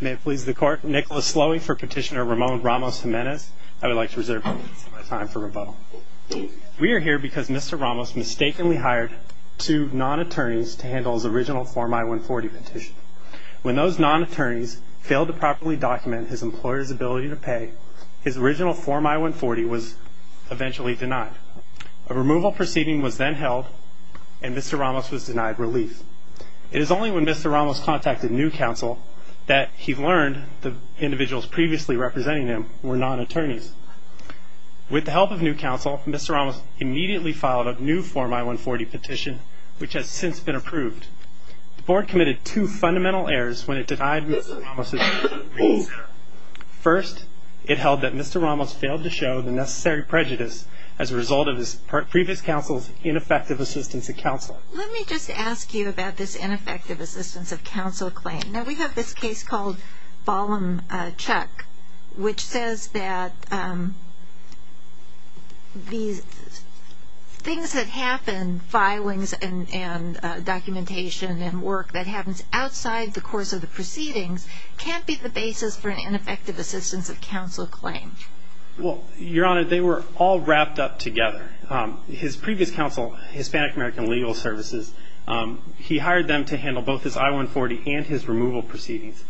May it please the court, Nicholas Slowy for Petitioner Ramon Ramos-Jimenez. I would like to reserve my time for rebuttal. We are here because Mr. Ramos mistakenly hired two non-attorneys to handle his original Form I-140 petition. When those non-attorneys failed to properly document his employer's ability to pay, his original Form I-140 was eventually denied. A removal proceeding was then held, and Mr. Ramos was denied relief. It is only when Mr. Ramos contacted New Counsel that he learned the individuals previously representing him were non-attorneys. With the help of New Counsel, Mr. Ramos immediately filed a new Form I-140 petition, which has since been approved. The board committed two fundamental errors when it denied Mr. Ramos' release. First, it held that Mr. Ramos failed to show the necessary prejudice as a result of his previous counsel's ineffective assistance to counsel. Let me just ask you about this ineffective assistance of counsel claim. Now, we have this case called Ballum-Chuck, which says that these things that happen, filings and documentation and work that happens outside the course of the proceedings, can't be the basis for an ineffective assistance of counsel claim. Well, Your Honor, they were all wrapped up together. His previous counsel, Hispanic American Legal Services, he hired them to handle both his I-140 and his removal proceedings.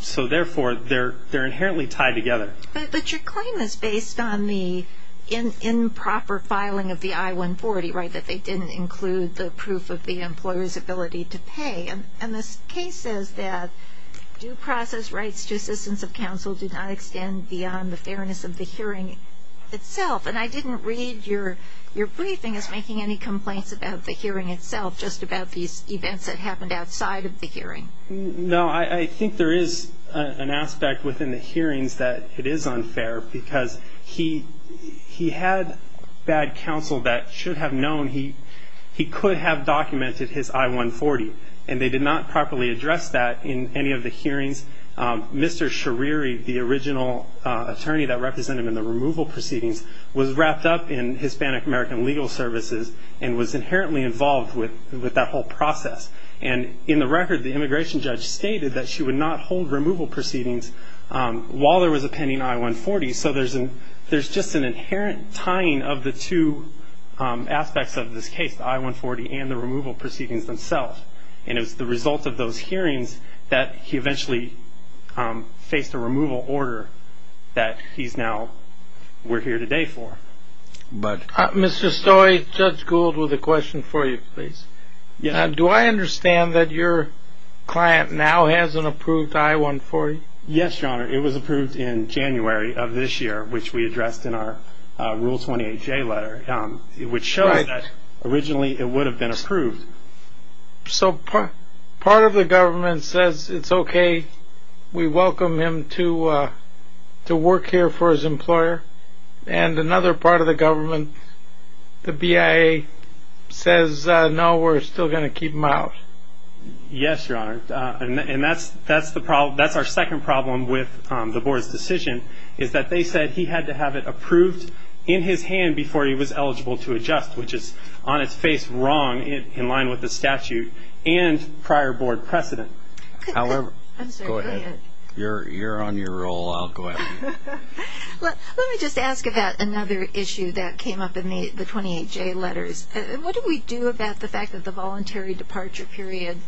So therefore, they're inherently tied together. But your claim is based on the improper filing of the I-140, right, that they didn't include the proof of the employer's ability to pay. And this case says that due process rights to assistance of counsel do not extend beyond the fairness of the hearing itself. And I didn't read your briefing as making any complaints about the hearing itself, just about these events that happened outside of the hearing. No. I think there is an aspect within the hearings that it is unfair, because he had bad counsel that should have known he could have documented his I-140, and they did not properly address that in any of the hearings. Mr. Schariri, the original attorney that represented him in the removal proceedings, was wrapped up in Hispanic American Legal Services and was inherently involved with that whole process. And in the record, the immigration judge stated that she would not hold removal proceedings while there was a pending I-140. So there's just an inherent tying of the two aspects of this case, the I-140 and the removal proceedings themselves. And it was the result of those hearings that he eventually faced a removal order that he's now, we're here today for. Mr. Stoi, Judge Gould with a question for you, please. Do I understand that your client now has an approved I-140? Yes, Your Honor. It was approved in January of this year, which we addressed in our Rule 28J letter. It would show that originally it would have been approved. So part of the government says it's okay, we welcome him to work here for his employer, and another part of the government, the BIA, says no, we're still going to keep him out. Yes, Your Honor. And that's our second problem with the board's decision, is that they said he had to have it approved in his hand before he was eligible to adjust, which is on its face wrong in line with the statute and prior board precedent. However, go ahead. You're on your roll. I'll go after you. Let me just ask about another issue that came up in the 28J letters. What do we do about the fact that the voluntary departure period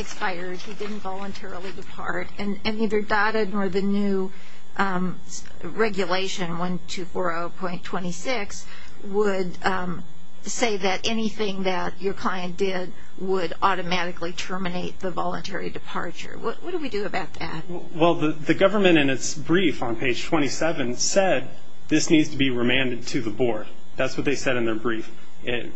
expired? He didn't voluntarily depart. And either DOTED or the new regulation, 1240.26, would say that anything that your client did would automatically terminate the voluntary departure. What do we do about that? Well, the government, in its brief on page 27, said this needs to be remanded to the board. That's what they said in their brief.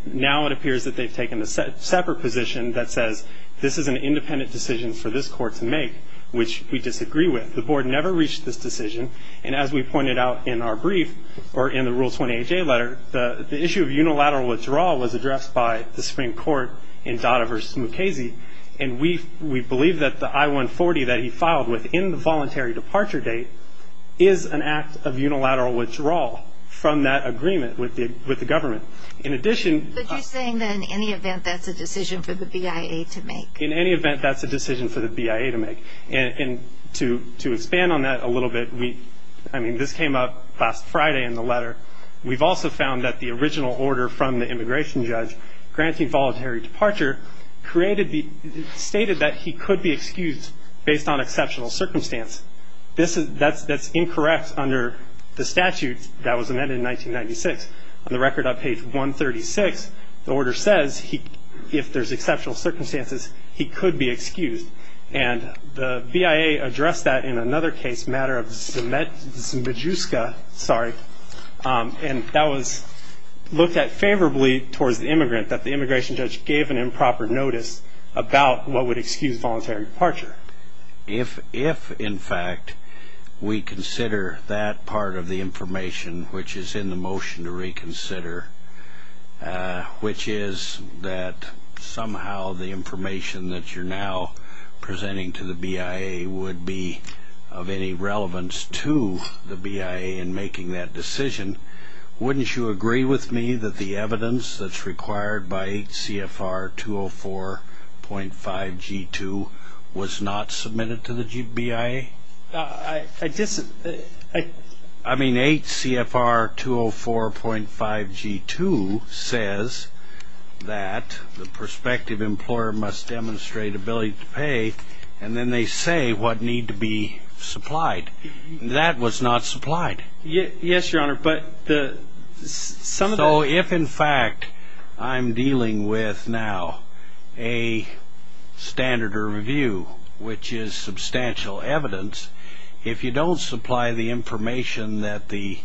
Now it appears that they've taken a separate position that says this is an independent decision for this court to make, which we disagree with. The board never reached this decision. And as we pointed out in our brief or in the Rule 28J letter, the issue of unilateral withdrawal was addressed by the Supreme Court in DOTA v. Mukasey. And we believe that the I-140 that he filed within the voluntary departure date is an act of unilateral withdrawal from that agreement with the government. In addition. But you're saying that in any event, that's a decision for the BIA to make. In any event, that's a decision for the BIA to make. And to expand on that a little bit, I mean, this came up last Friday in the letter. We've also found that the original order from the immigration judge granting voluntary departure stated that he could be excused based on exceptional circumstance. That's incorrect under the statute that was amended in 1996. On the record on page 136, the order says if there's exceptional circumstances, he could be excused. And the BIA addressed that in another case, matter of Zmejuska. Sorry. And that was looked at favorably towards the immigrant, that the immigration judge gave an improper notice about what would excuse voluntary departure. If, in fact, we consider that part of the information, which is in the motion to reconsider, which is that somehow the information that you're now presenting to the BIA would be of any relevance to the BIA in making that decision, wouldn't you agree with me that the evidence that's required by 8 CFR 204.5 G2 was not submitted to the BIA? I disagree. I mean, 8 CFR 204.5 G2 says that the prospective employer must demonstrate ability to pay, and then they say what need to be supplied. That was not supplied. Yes, Your Honor. So if, in fact, I'm dealing with now a standard review, which is substantial evidence, if you don't supply the information that the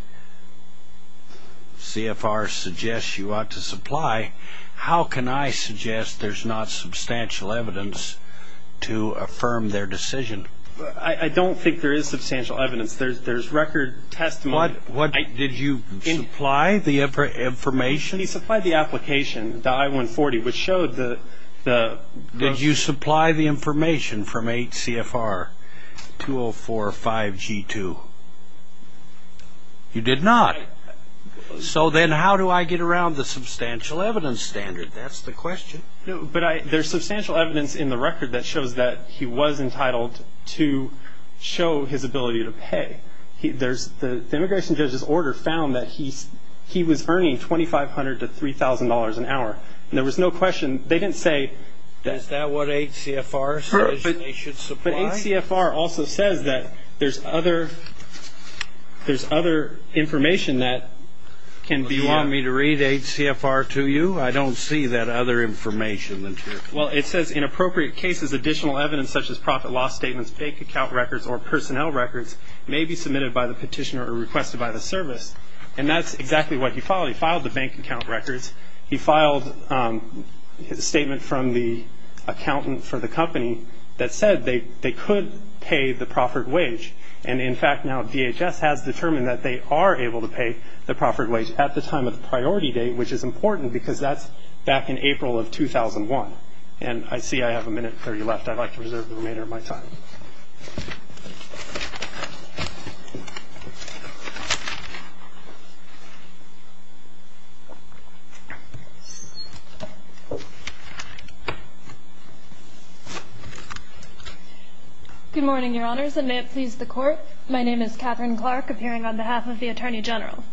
CFR suggests you ought to supply, how can I suggest there's not substantial evidence to affirm their decision? I don't think there is substantial evidence. There's record testimony. Did you supply the information? He supplied the application, the I-140, which showed the ---- Did you supply the information from 8 CFR 204.5 G2? You did not. So then how do I get around the substantial evidence standard? That's the question. But there's substantial evidence in the record that shows that he was entitled to show his ability to pay. The immigration judge's order found that he was earning $2,500 to $3,000 an hour. There was no question. They didn't say ---- Is that what 8 CFR says they should supply? But 8 CFR also says that there's other information that can be ---- Do you want me to read 8 CFR to you? I don't see that other information. Well, it says in appropriate cases additional evidence such as profit loss statements, bank account records or personnel records may be submitted by the petitioner or requested by the service. And that's exactly what he filed. He filed the bank account records. He filed a statement from the accountant for the company that said they could pay the proffered wage. And, in fact, now DHS has determined that they are able to pay the proffered wage at the time of the priority date, which is important because that's back in April of 2001. And I see I have a minute and 30 left. I'd like to reserve the remainder of my time. Good morning, Your Honors, and may it please the Court. My name is Catherine Clark, appearing on behalf of the Attorney General.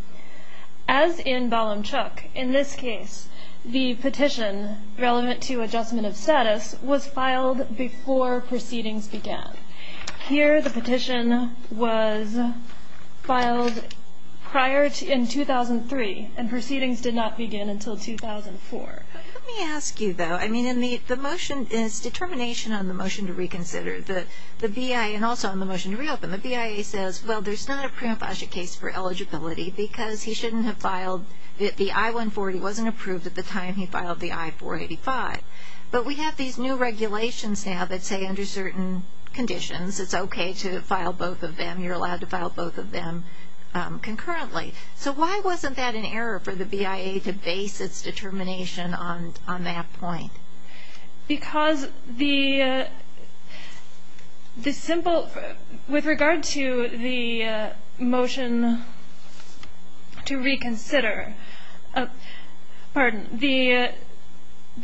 As in Balam-Chuk, in this case, the petition relevant to adjustment of status was filed before proceedings began. Here the petition was filed prior in 2003, and proceedings did not begin until 2004. Let me ask you, though, I mean, the motion is determination on the motion to reconsider. The BIA, and also on the motion to reopen, the BIA says, well, there's not a prima facie case for eligibility because he shouldn't have filed the I-140. It wasn't approved at the time he filed the I-485. But we have these new regulations now that say under certain conditions it's okay to file both of them. You're allowed to file both of them concurrently. So why wasn't that an error for the BIA to base its determination on that point? Because the simple, with regard to the motion to reconsider, pardon, the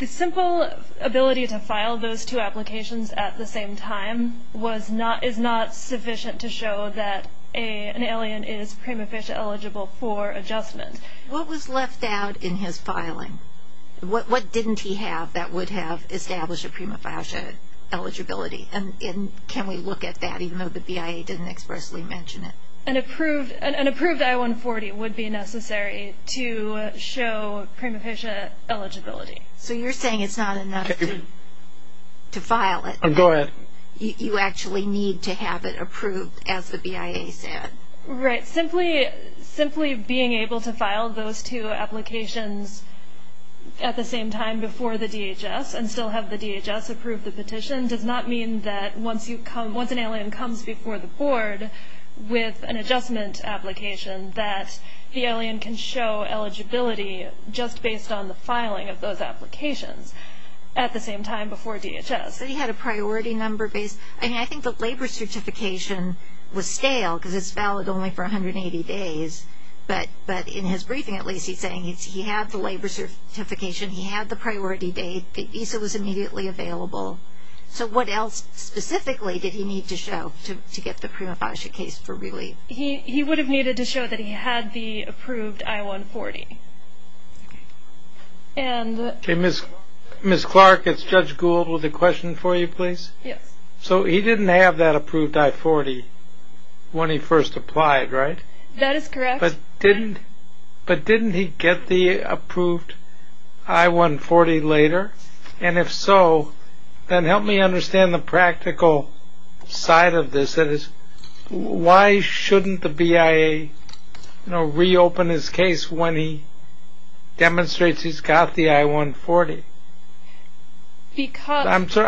simple ability to file those two applications at the same time was not, is not sufficient to show that an alien is prima facie eligible for adjustment. What was left out in his filing? What didn't he have that would have established a prima facie eligibility? And can we look at that, even though the BIA didn't expressly mention it? An approved I-140 would be necessary to show prima facie eligibility. So you're saying it's not enough to file it. Go ahead. You actually need to have it approved, as the BIA said. Right. Simply being able to file those two applications at the same time before the DHS and still have the DHS approve the petition does not mean that once you come, once an alien comes before the board with an adjustment application, that the alien can show eligibility just based on the filing of those applications at the same time before DHS. He had a priority number based, I mean, I think the labor certification was stale because it's valid only for 180 days. But in his briefing, at least, he's saying he had the labor certification, he had the priority date, the visa was immediately available. So what else specifically did he need to show to get the prima facie case for relief? He would have needed to show that he had the approved I-140. Ms. Clark, it's Judge Gould with a question for you, please. Yes. So he didn't have that approved I-40 when he first applied, right? That is correct. But didn't he get the approved I-140 later? And if so, then help me understand the practical side of this. That is, why shouldn't the BIA reopen his case when he demonstrates he's got the I-140? I'm sorry,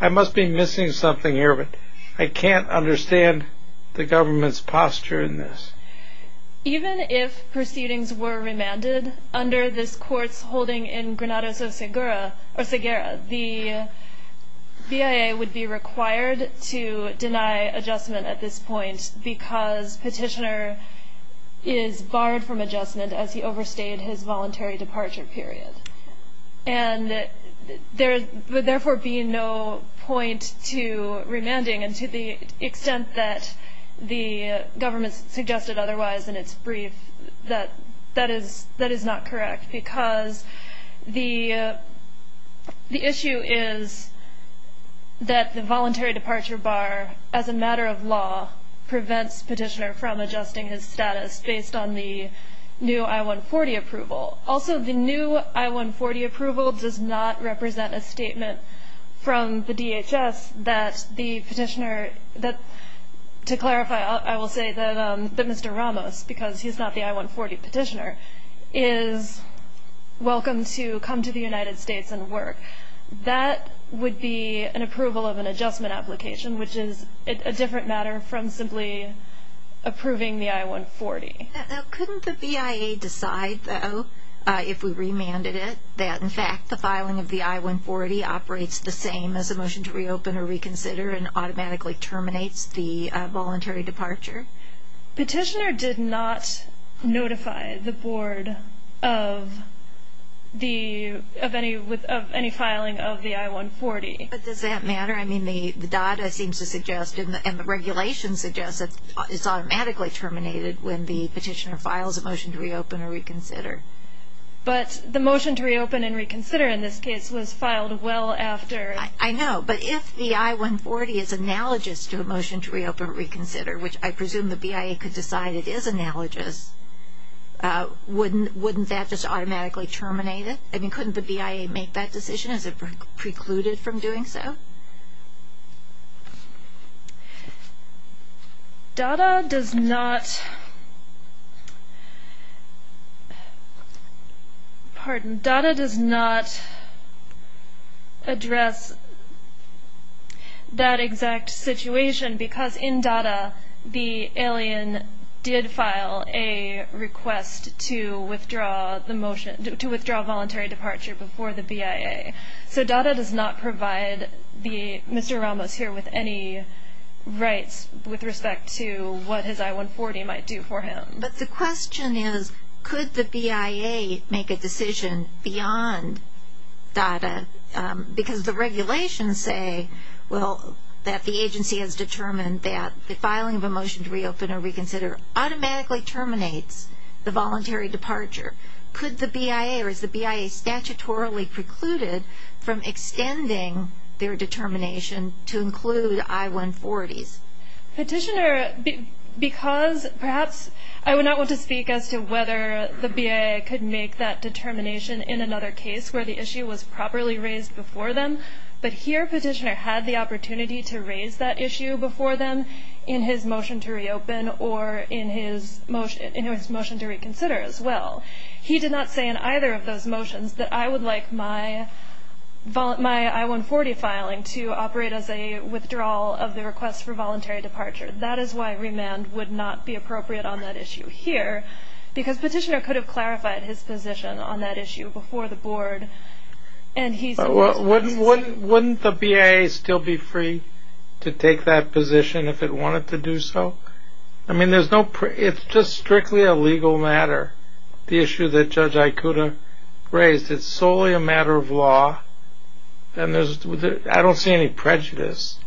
I must be missing something here, but I can't understand the government's posture in this. Even if proceedings were remanded under this court's holding in Granada, the BIA would be required to deny adjustment at this point because petitioner is barred from adjustment as he overstayed his voluntary departure period. And there would therefore be no point to remanding, and to the extent that the government suggested otherwise in its brief, that is not correct, because the issue is that the voluntary departure bar, as a matter of law, prevents petitioner from adjusting his status based on the new I-140 approval. Also, the new I-140 approval does not represent a statement from the DHS that the petitioner, to clarify, I will say that Mr. Ramos, because he's not the I-140 petitioner, is welcome to come to the United States and work. That would be an approval of an adjustment application, which is a different matter from simply approving the I-140. Couldn't the BIA decide, though, if we remanded it, that in fact the filing of the I-140 operates the same as a motion to reopen or reconsider and automatically terminates the voluntary departure? Petitioner did not notify the Board of any filing of the I-140. But does that matter? I mean, the data seems to suggest and the regulations suggest that it's automatically terminated when the petitioner files a motion to reopen or reconsider. But the motion to reopen and reconsider in this case was filed well after. I know. But if the I-140 is analogous to a motion to reopen or reconsider, which I presume the BIA could decide it is analogous, wouldn't that just automatically terminate it? I mean, couldn't the BIA make that decision? Is it precluded from doing so? DADA does not address that exact situation because in DADA, the alien did file a request to withdraw voluntary departure before the BIA. So DADA does not provide Mr. Ramos here with any rights with respect to what his I-140 might do for him. But the question is, could the BIA make a decision beyond DADA? Because the regulations say that the agency has determined that the filing of a motion to reopen or reconsider automatically terminates the voluntary departure. Could the BIA or is the BIA statutorily precluded from extending their determination to include I-140s? Petitioner, because perhaps I would not want to speak as to whether the BIA could make that determination in another case where the issue was properly raised before them. But here petitioner had the opportunity to raise that issue before them in his motion to reopen or in his motion to reconsider as well. He did not say in either of those motions that I would like my I-140 filing to operate as a withdrawal of the request for voluntary departure. That is why remand would not be appropriate on that issue here because petitioner could have clarified his position on that issue before the board. Wouldn't the BIA still be free to take that position if it wanted to do so? I mean, it's just strictly a legal matter. The issue that Judge Ikuda raised, it's solely a matter of law and I don't see any prejudice.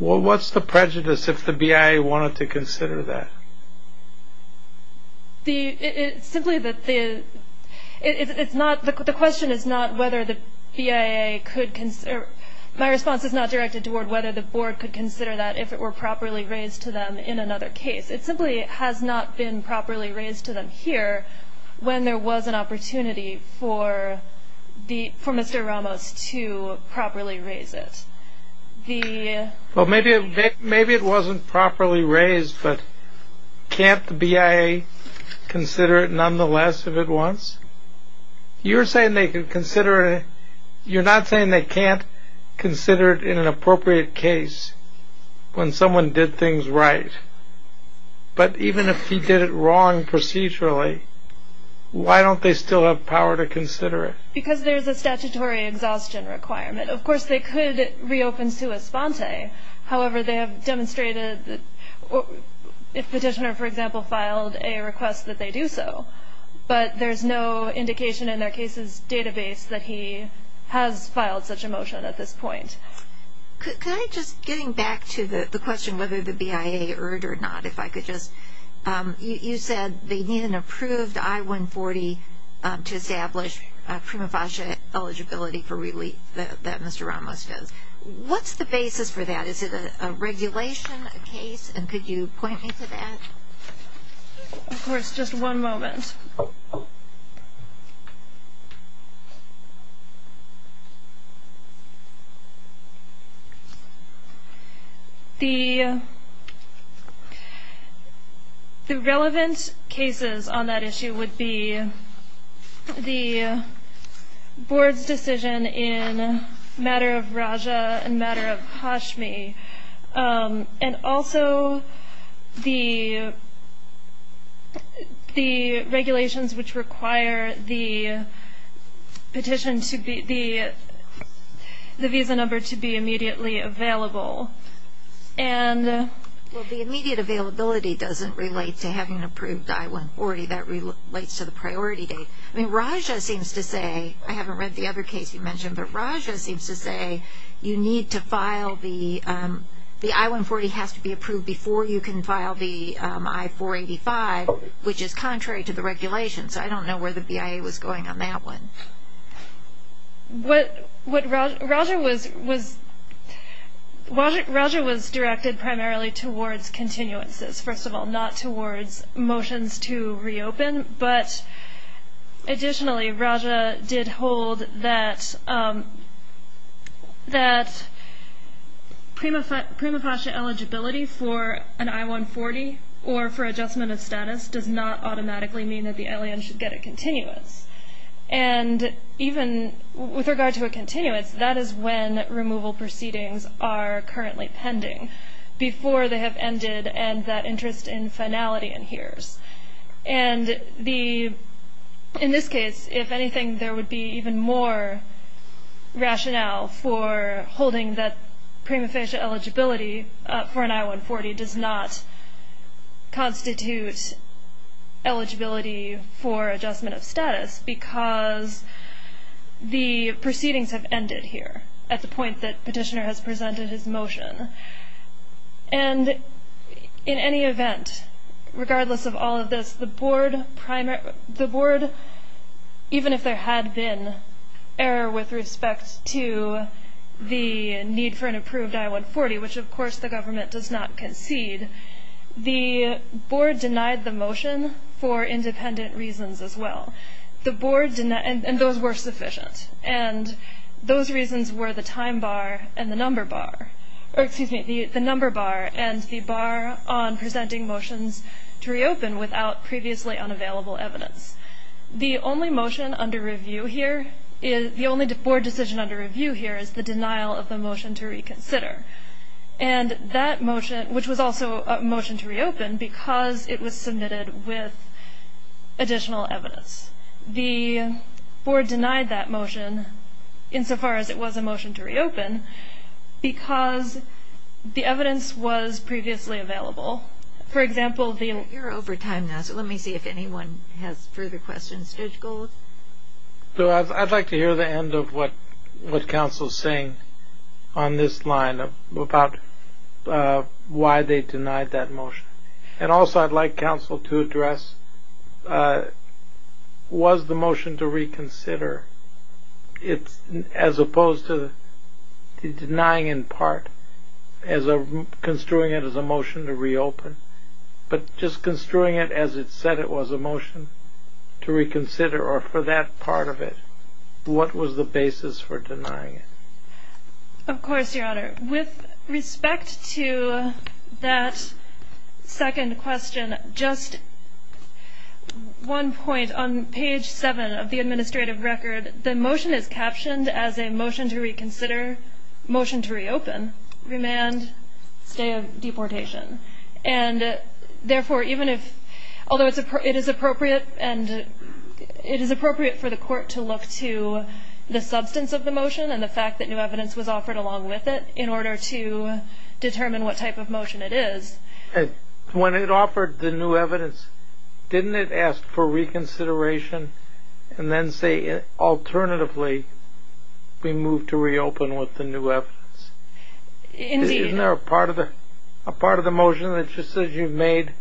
What's the prejudice if the BIA wanted to consider that? It's simply that the question is not whether the BIA could consider, my response is not directed toward whether the board could consider that if it were properly raised to them in another case. It simply has not been properly raised to them here when there was an opportunity for Mr. Ramos to properly raise it. Well, maybe it wasn't properly raised, but can't the BIA consider it nonetheless if it wants? You're not saying they can't consider it in an appropriate case when someone did things right, but even if he did it wrong procedurally, why don't they still have power to consider it? Because there's a statutory exhaustion requirement. Of course, they could reopen Sua Sponte. However, they have demonstrated that if Petitioner, for example, filed a request that they do so, but there's no indication in their case's database that he has filed such a motion at this point. Could I just, getting back to the question whether the BIA erred or not, if I could just, you said they need an approved I-140 to establish prima facie eligibility for relief that Mr. Ramos does. What's the basis for that? Is it a regulation case, and could you point me to that? Of course, just one moment. The relevant cases on that issue would be the board's decision in matter of Raja and matter of Hashmi, and also the regulations which require the petition to be, the visa number to be immediately available. Well, the immediate availability doesn't relate to having an approved I-140. That relates to the priority date. I mean, Raja seems to say, I haven't read the other case you mentioned, but Raja seems to say you need to file the, the I-140 has to be approved before you can file the I-485, which is contrary to the regulations. I don't know where the BIA was going on that one. What Raja was, Raja was directed primarily towards continuances, first of all, not towards motions to reopen, but additionally, Raja did hold that, that prima facie eligibility for an I-140 or for adjustment of status does not automatically mean that the ILAN should get a continuance. And even with regard to a continuance, that is when removal proceedings are currently pending, before they have ended and that interest in finality adheres. And the, in this case, if anything, there would be even more rationale for holding that prima facie eligibility for an I-140 does not constitute eligibility for adjustment of status, because the proceedings have ended here at the point that petitioner has presented his motion. And in any event, regardless of all of this, the board primary, the board, even if there had been error with respect to the need for an approved I-140, which of course the government does not concede, the board denied the motion for independent reasons as well. The board denied, and those were sufficient, and those reasons were the time bar and the number bar, or excuse me, the number bar and the bar on presenting motions to reopen without previously unavailable evidence. The only motion under review here, the only board decision under review here is the denial of the motion to reconsider. And that motion, which was also a motion to reopen, because it was submitted with additional evidence. The board denied that motion, insofar as it was a motion to reopen, because the evidence was previously available. For example, the... You're over time now, so let me see if anyone has further questions. Judge Gold? I'd like to hear the end of what counsel is saying on this line about why they denied that motion. And also I'd like counsel to address, was the motion to reconsider, as opposed to denying in part, construing it as a motion to reopen, but just construing it as it said it was a motion to reconsider, or for that part of it, what was the basis for denying it? Of course, Your Honor. With respect to that second question, just one point. On page 7 of the administrative record, the motion is captioned as a motion to reconsider, motion to reopen, remand, stay of deportation. And therefore, even if, although it is appropriate for the court to look to the substance of the motion and the fact that new evidence was offered along with it in order to determine what type of motion it is. When it offered the new evidence, didn't it ask for reconsideration and then say, alternatively, we move to reopen with the new evidence? Indeed. Isn't there a part of the motion that just says you've made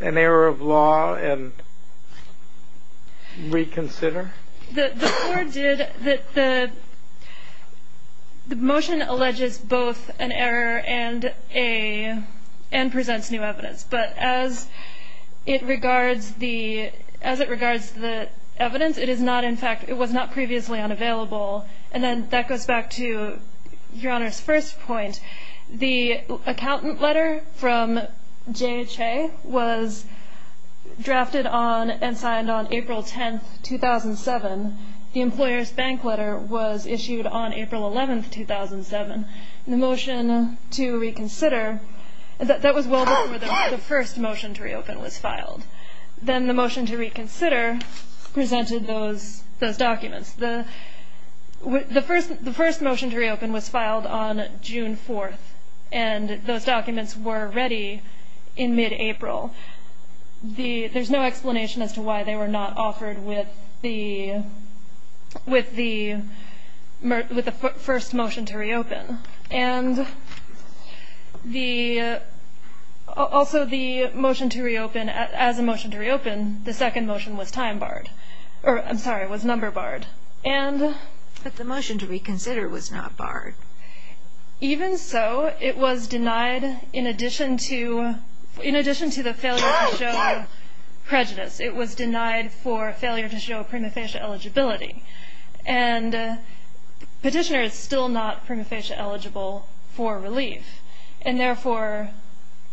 an error of law and reconsider? The motion alleges both an error and presents new evidence. But as it regards the evidence, it was not previously unavailable. And then that goes back to Your Honor's first point. The accountant letter from J.H.A. was drafted on and signed on April 10th, 2007. The employer's bank letter was issued on April 11th, 2007. The motion to reconsider, that was well before the first motion to reopen was filed. Then the motion to reconsider presented those documents. The first motion to reopen was filed on June 4th, and those documents were ready in mid-April. There's no explanation as to why they were not offered with the first motion to reopen. And also the motion to reopen, as a motion to reopen, the second motion was time barred. I'm sorry, it was number barred. But the motion to reconsider was not barred. Even so, it was denied in addition to the failure to show prejudice. It was denied for failure to show prima facie eligibility. And Petitioner is still not prima facie eligible for relief. And therefore,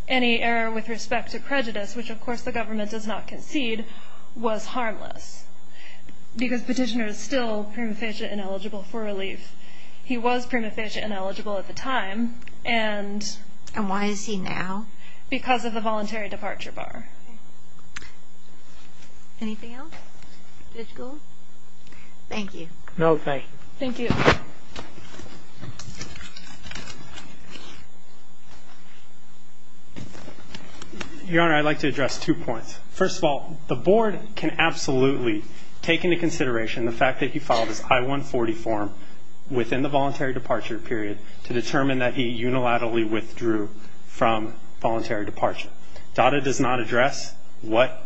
any error with respect to prejudice, which of course the government does not concede, was harmless. Because Petitioner is still prima facie ineligible for relief. He was prima facie ineligible at the time. And why is he now? Because of the voluntary departure bar. Anything else? Thank you. No, thank you. Thank you. Your Honor, I'd like to address two points. First of all, the Board can absolutely take into consideration the fact that he filed his I-140 form within the voluntary departure period to determine that he unilaterally withdrew from voluntary departure. DOTA does not address what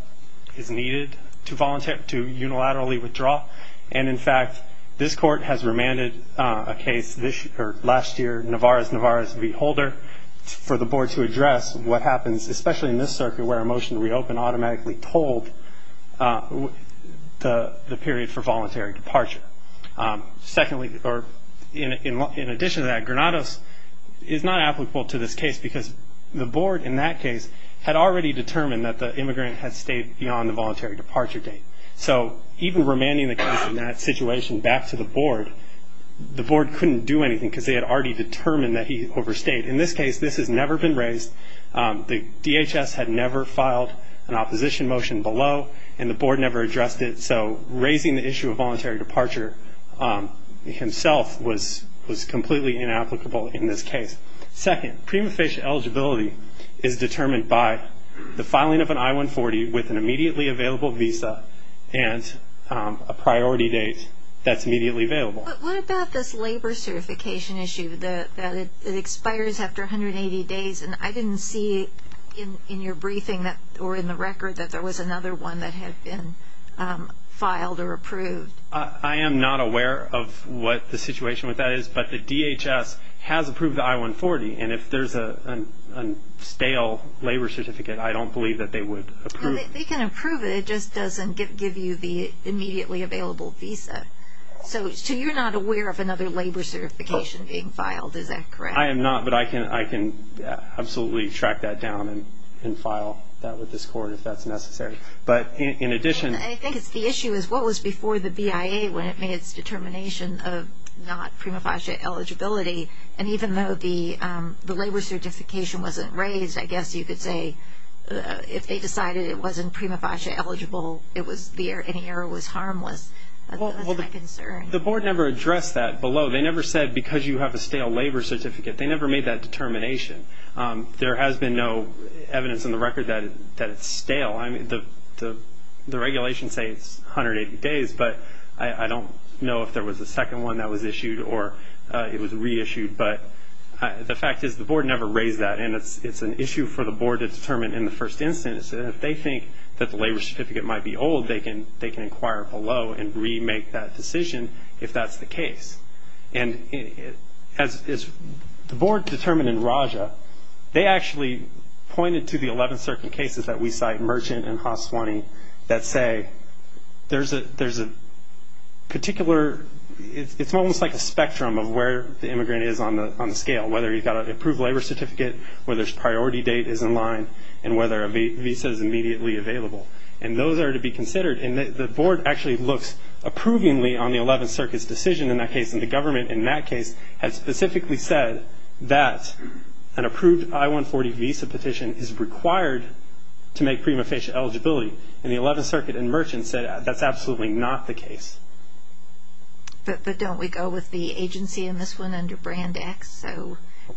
is needed to unilaterally withdraw. And in fact, this Court has remanded a case last year, Navarrez-Navarrez v. Holder, for the Board to address what happens, especially in this circuit where a motion to reopen automatically told the period for voluntary departure. Secondly, or in addition to that, Granados is not applicable to this case because the Board in that case had already determined that the immigrant had stayed beyond the voluntary departure date. So even remanding the case in that situation back to the Board, the Board couldn't do anything because they had already determined that he overstayed. In this case, this has never been raised. The DHS had never filed an opposition motion below, and the Board never addressed it. So raising the issue of voluntary departure himself was completely inapplicable in this case. Second, prima facie eligibility is determined by the filing of an I-140 with an immediately available visa and a priority date that's immediately available. But what about this labor certification issue, that it expires after 180 days? And I didn't see in your briefing or in the record that there was another one that had been filed or approved. I am not aware of what the situation with that is, but the DHS has approved the I-140, and if there's a stale labor certificate, I don't believe that they would approve it. They can approve it, it just doesn't give you the immediately available visa. So you're not aware of another labor certification being filed, is that correct? I am not, but I can absolutely track that down and file that with this court if that's necessary. But in addition- I think the issue is what was before the BIA when it made its determination of not prima facie eligibility, and even though the labor certification wasn't raised, I guess you could say if they decided it wasn't prima facie eligible, any error was harmless. That's my concern. The Board never addressed that below. They never said because you have a stale labor certificate. They never made that determination. There has been no evidence in the record that it's stale. The regulations say it's 180 days, but I don't know if there was a second one that was issued or it was reissued. But the fact is the Board never raised that, and it's an issue for the Board to determine in the first instance. And if they think that the labor certificate might be old, they can inquire below and remake that decision if that's the case. And as the Board determined in Raja, they actually pointed to the 11th Circuit cases that we cite, Merchant and Haswani, that say there's a particular-it's almost like a spectrum of where the immigrant is on the scale, whether he's got an approved labor certificate, whether his priority date is in line, and whether a visa is immediately available. And those are to be considered. And the Board actually looks approvingly on the 11th Circuit's decision in that case, and the government in that case has specifically said that an approved I-140 visa petition is required to make prima facie eligibility. And the 11th Circuit and Merchant said that's absolutely not the case. But don't we go with the agency in this one under Brand X?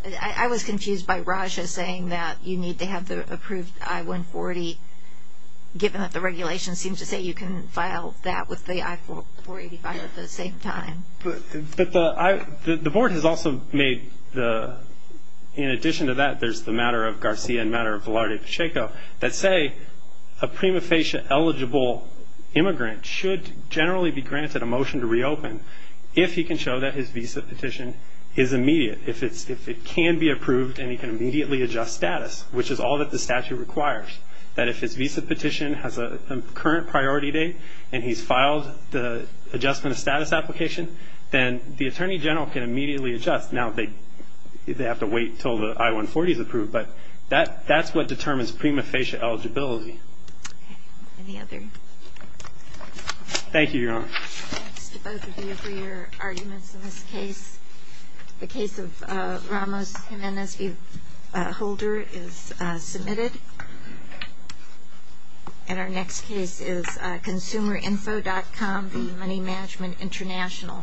I was confused by Raja saying that you need to have the approved I-140, given that the regulation seems to say you can file that with the I-485 at the same time. But the Board has also made the-in addition to that, there's the matter of Garcia and matter of Velarde Pacheco, that say a prima facie eligible immigrant should generally be granted a motion to reopen if he can show that his visa petition is immediate, if it can be approved and he can immediately adjust status, which is all that the statute requires, that if his visa petition has a current priority date and he's filed the adjustment of status application, then the Attorney General can immediately adjust. Now they have to wait until the I-140 is approved. But that's what determines prima facie eligibility. Okay. Any other? Thank you, Your Honor. Thanks to both of you for your arguments in this case. The case of Ramos-Jimenez v. Holder is submitted. And our next case is ConsumerInfo.com v. Money Management International.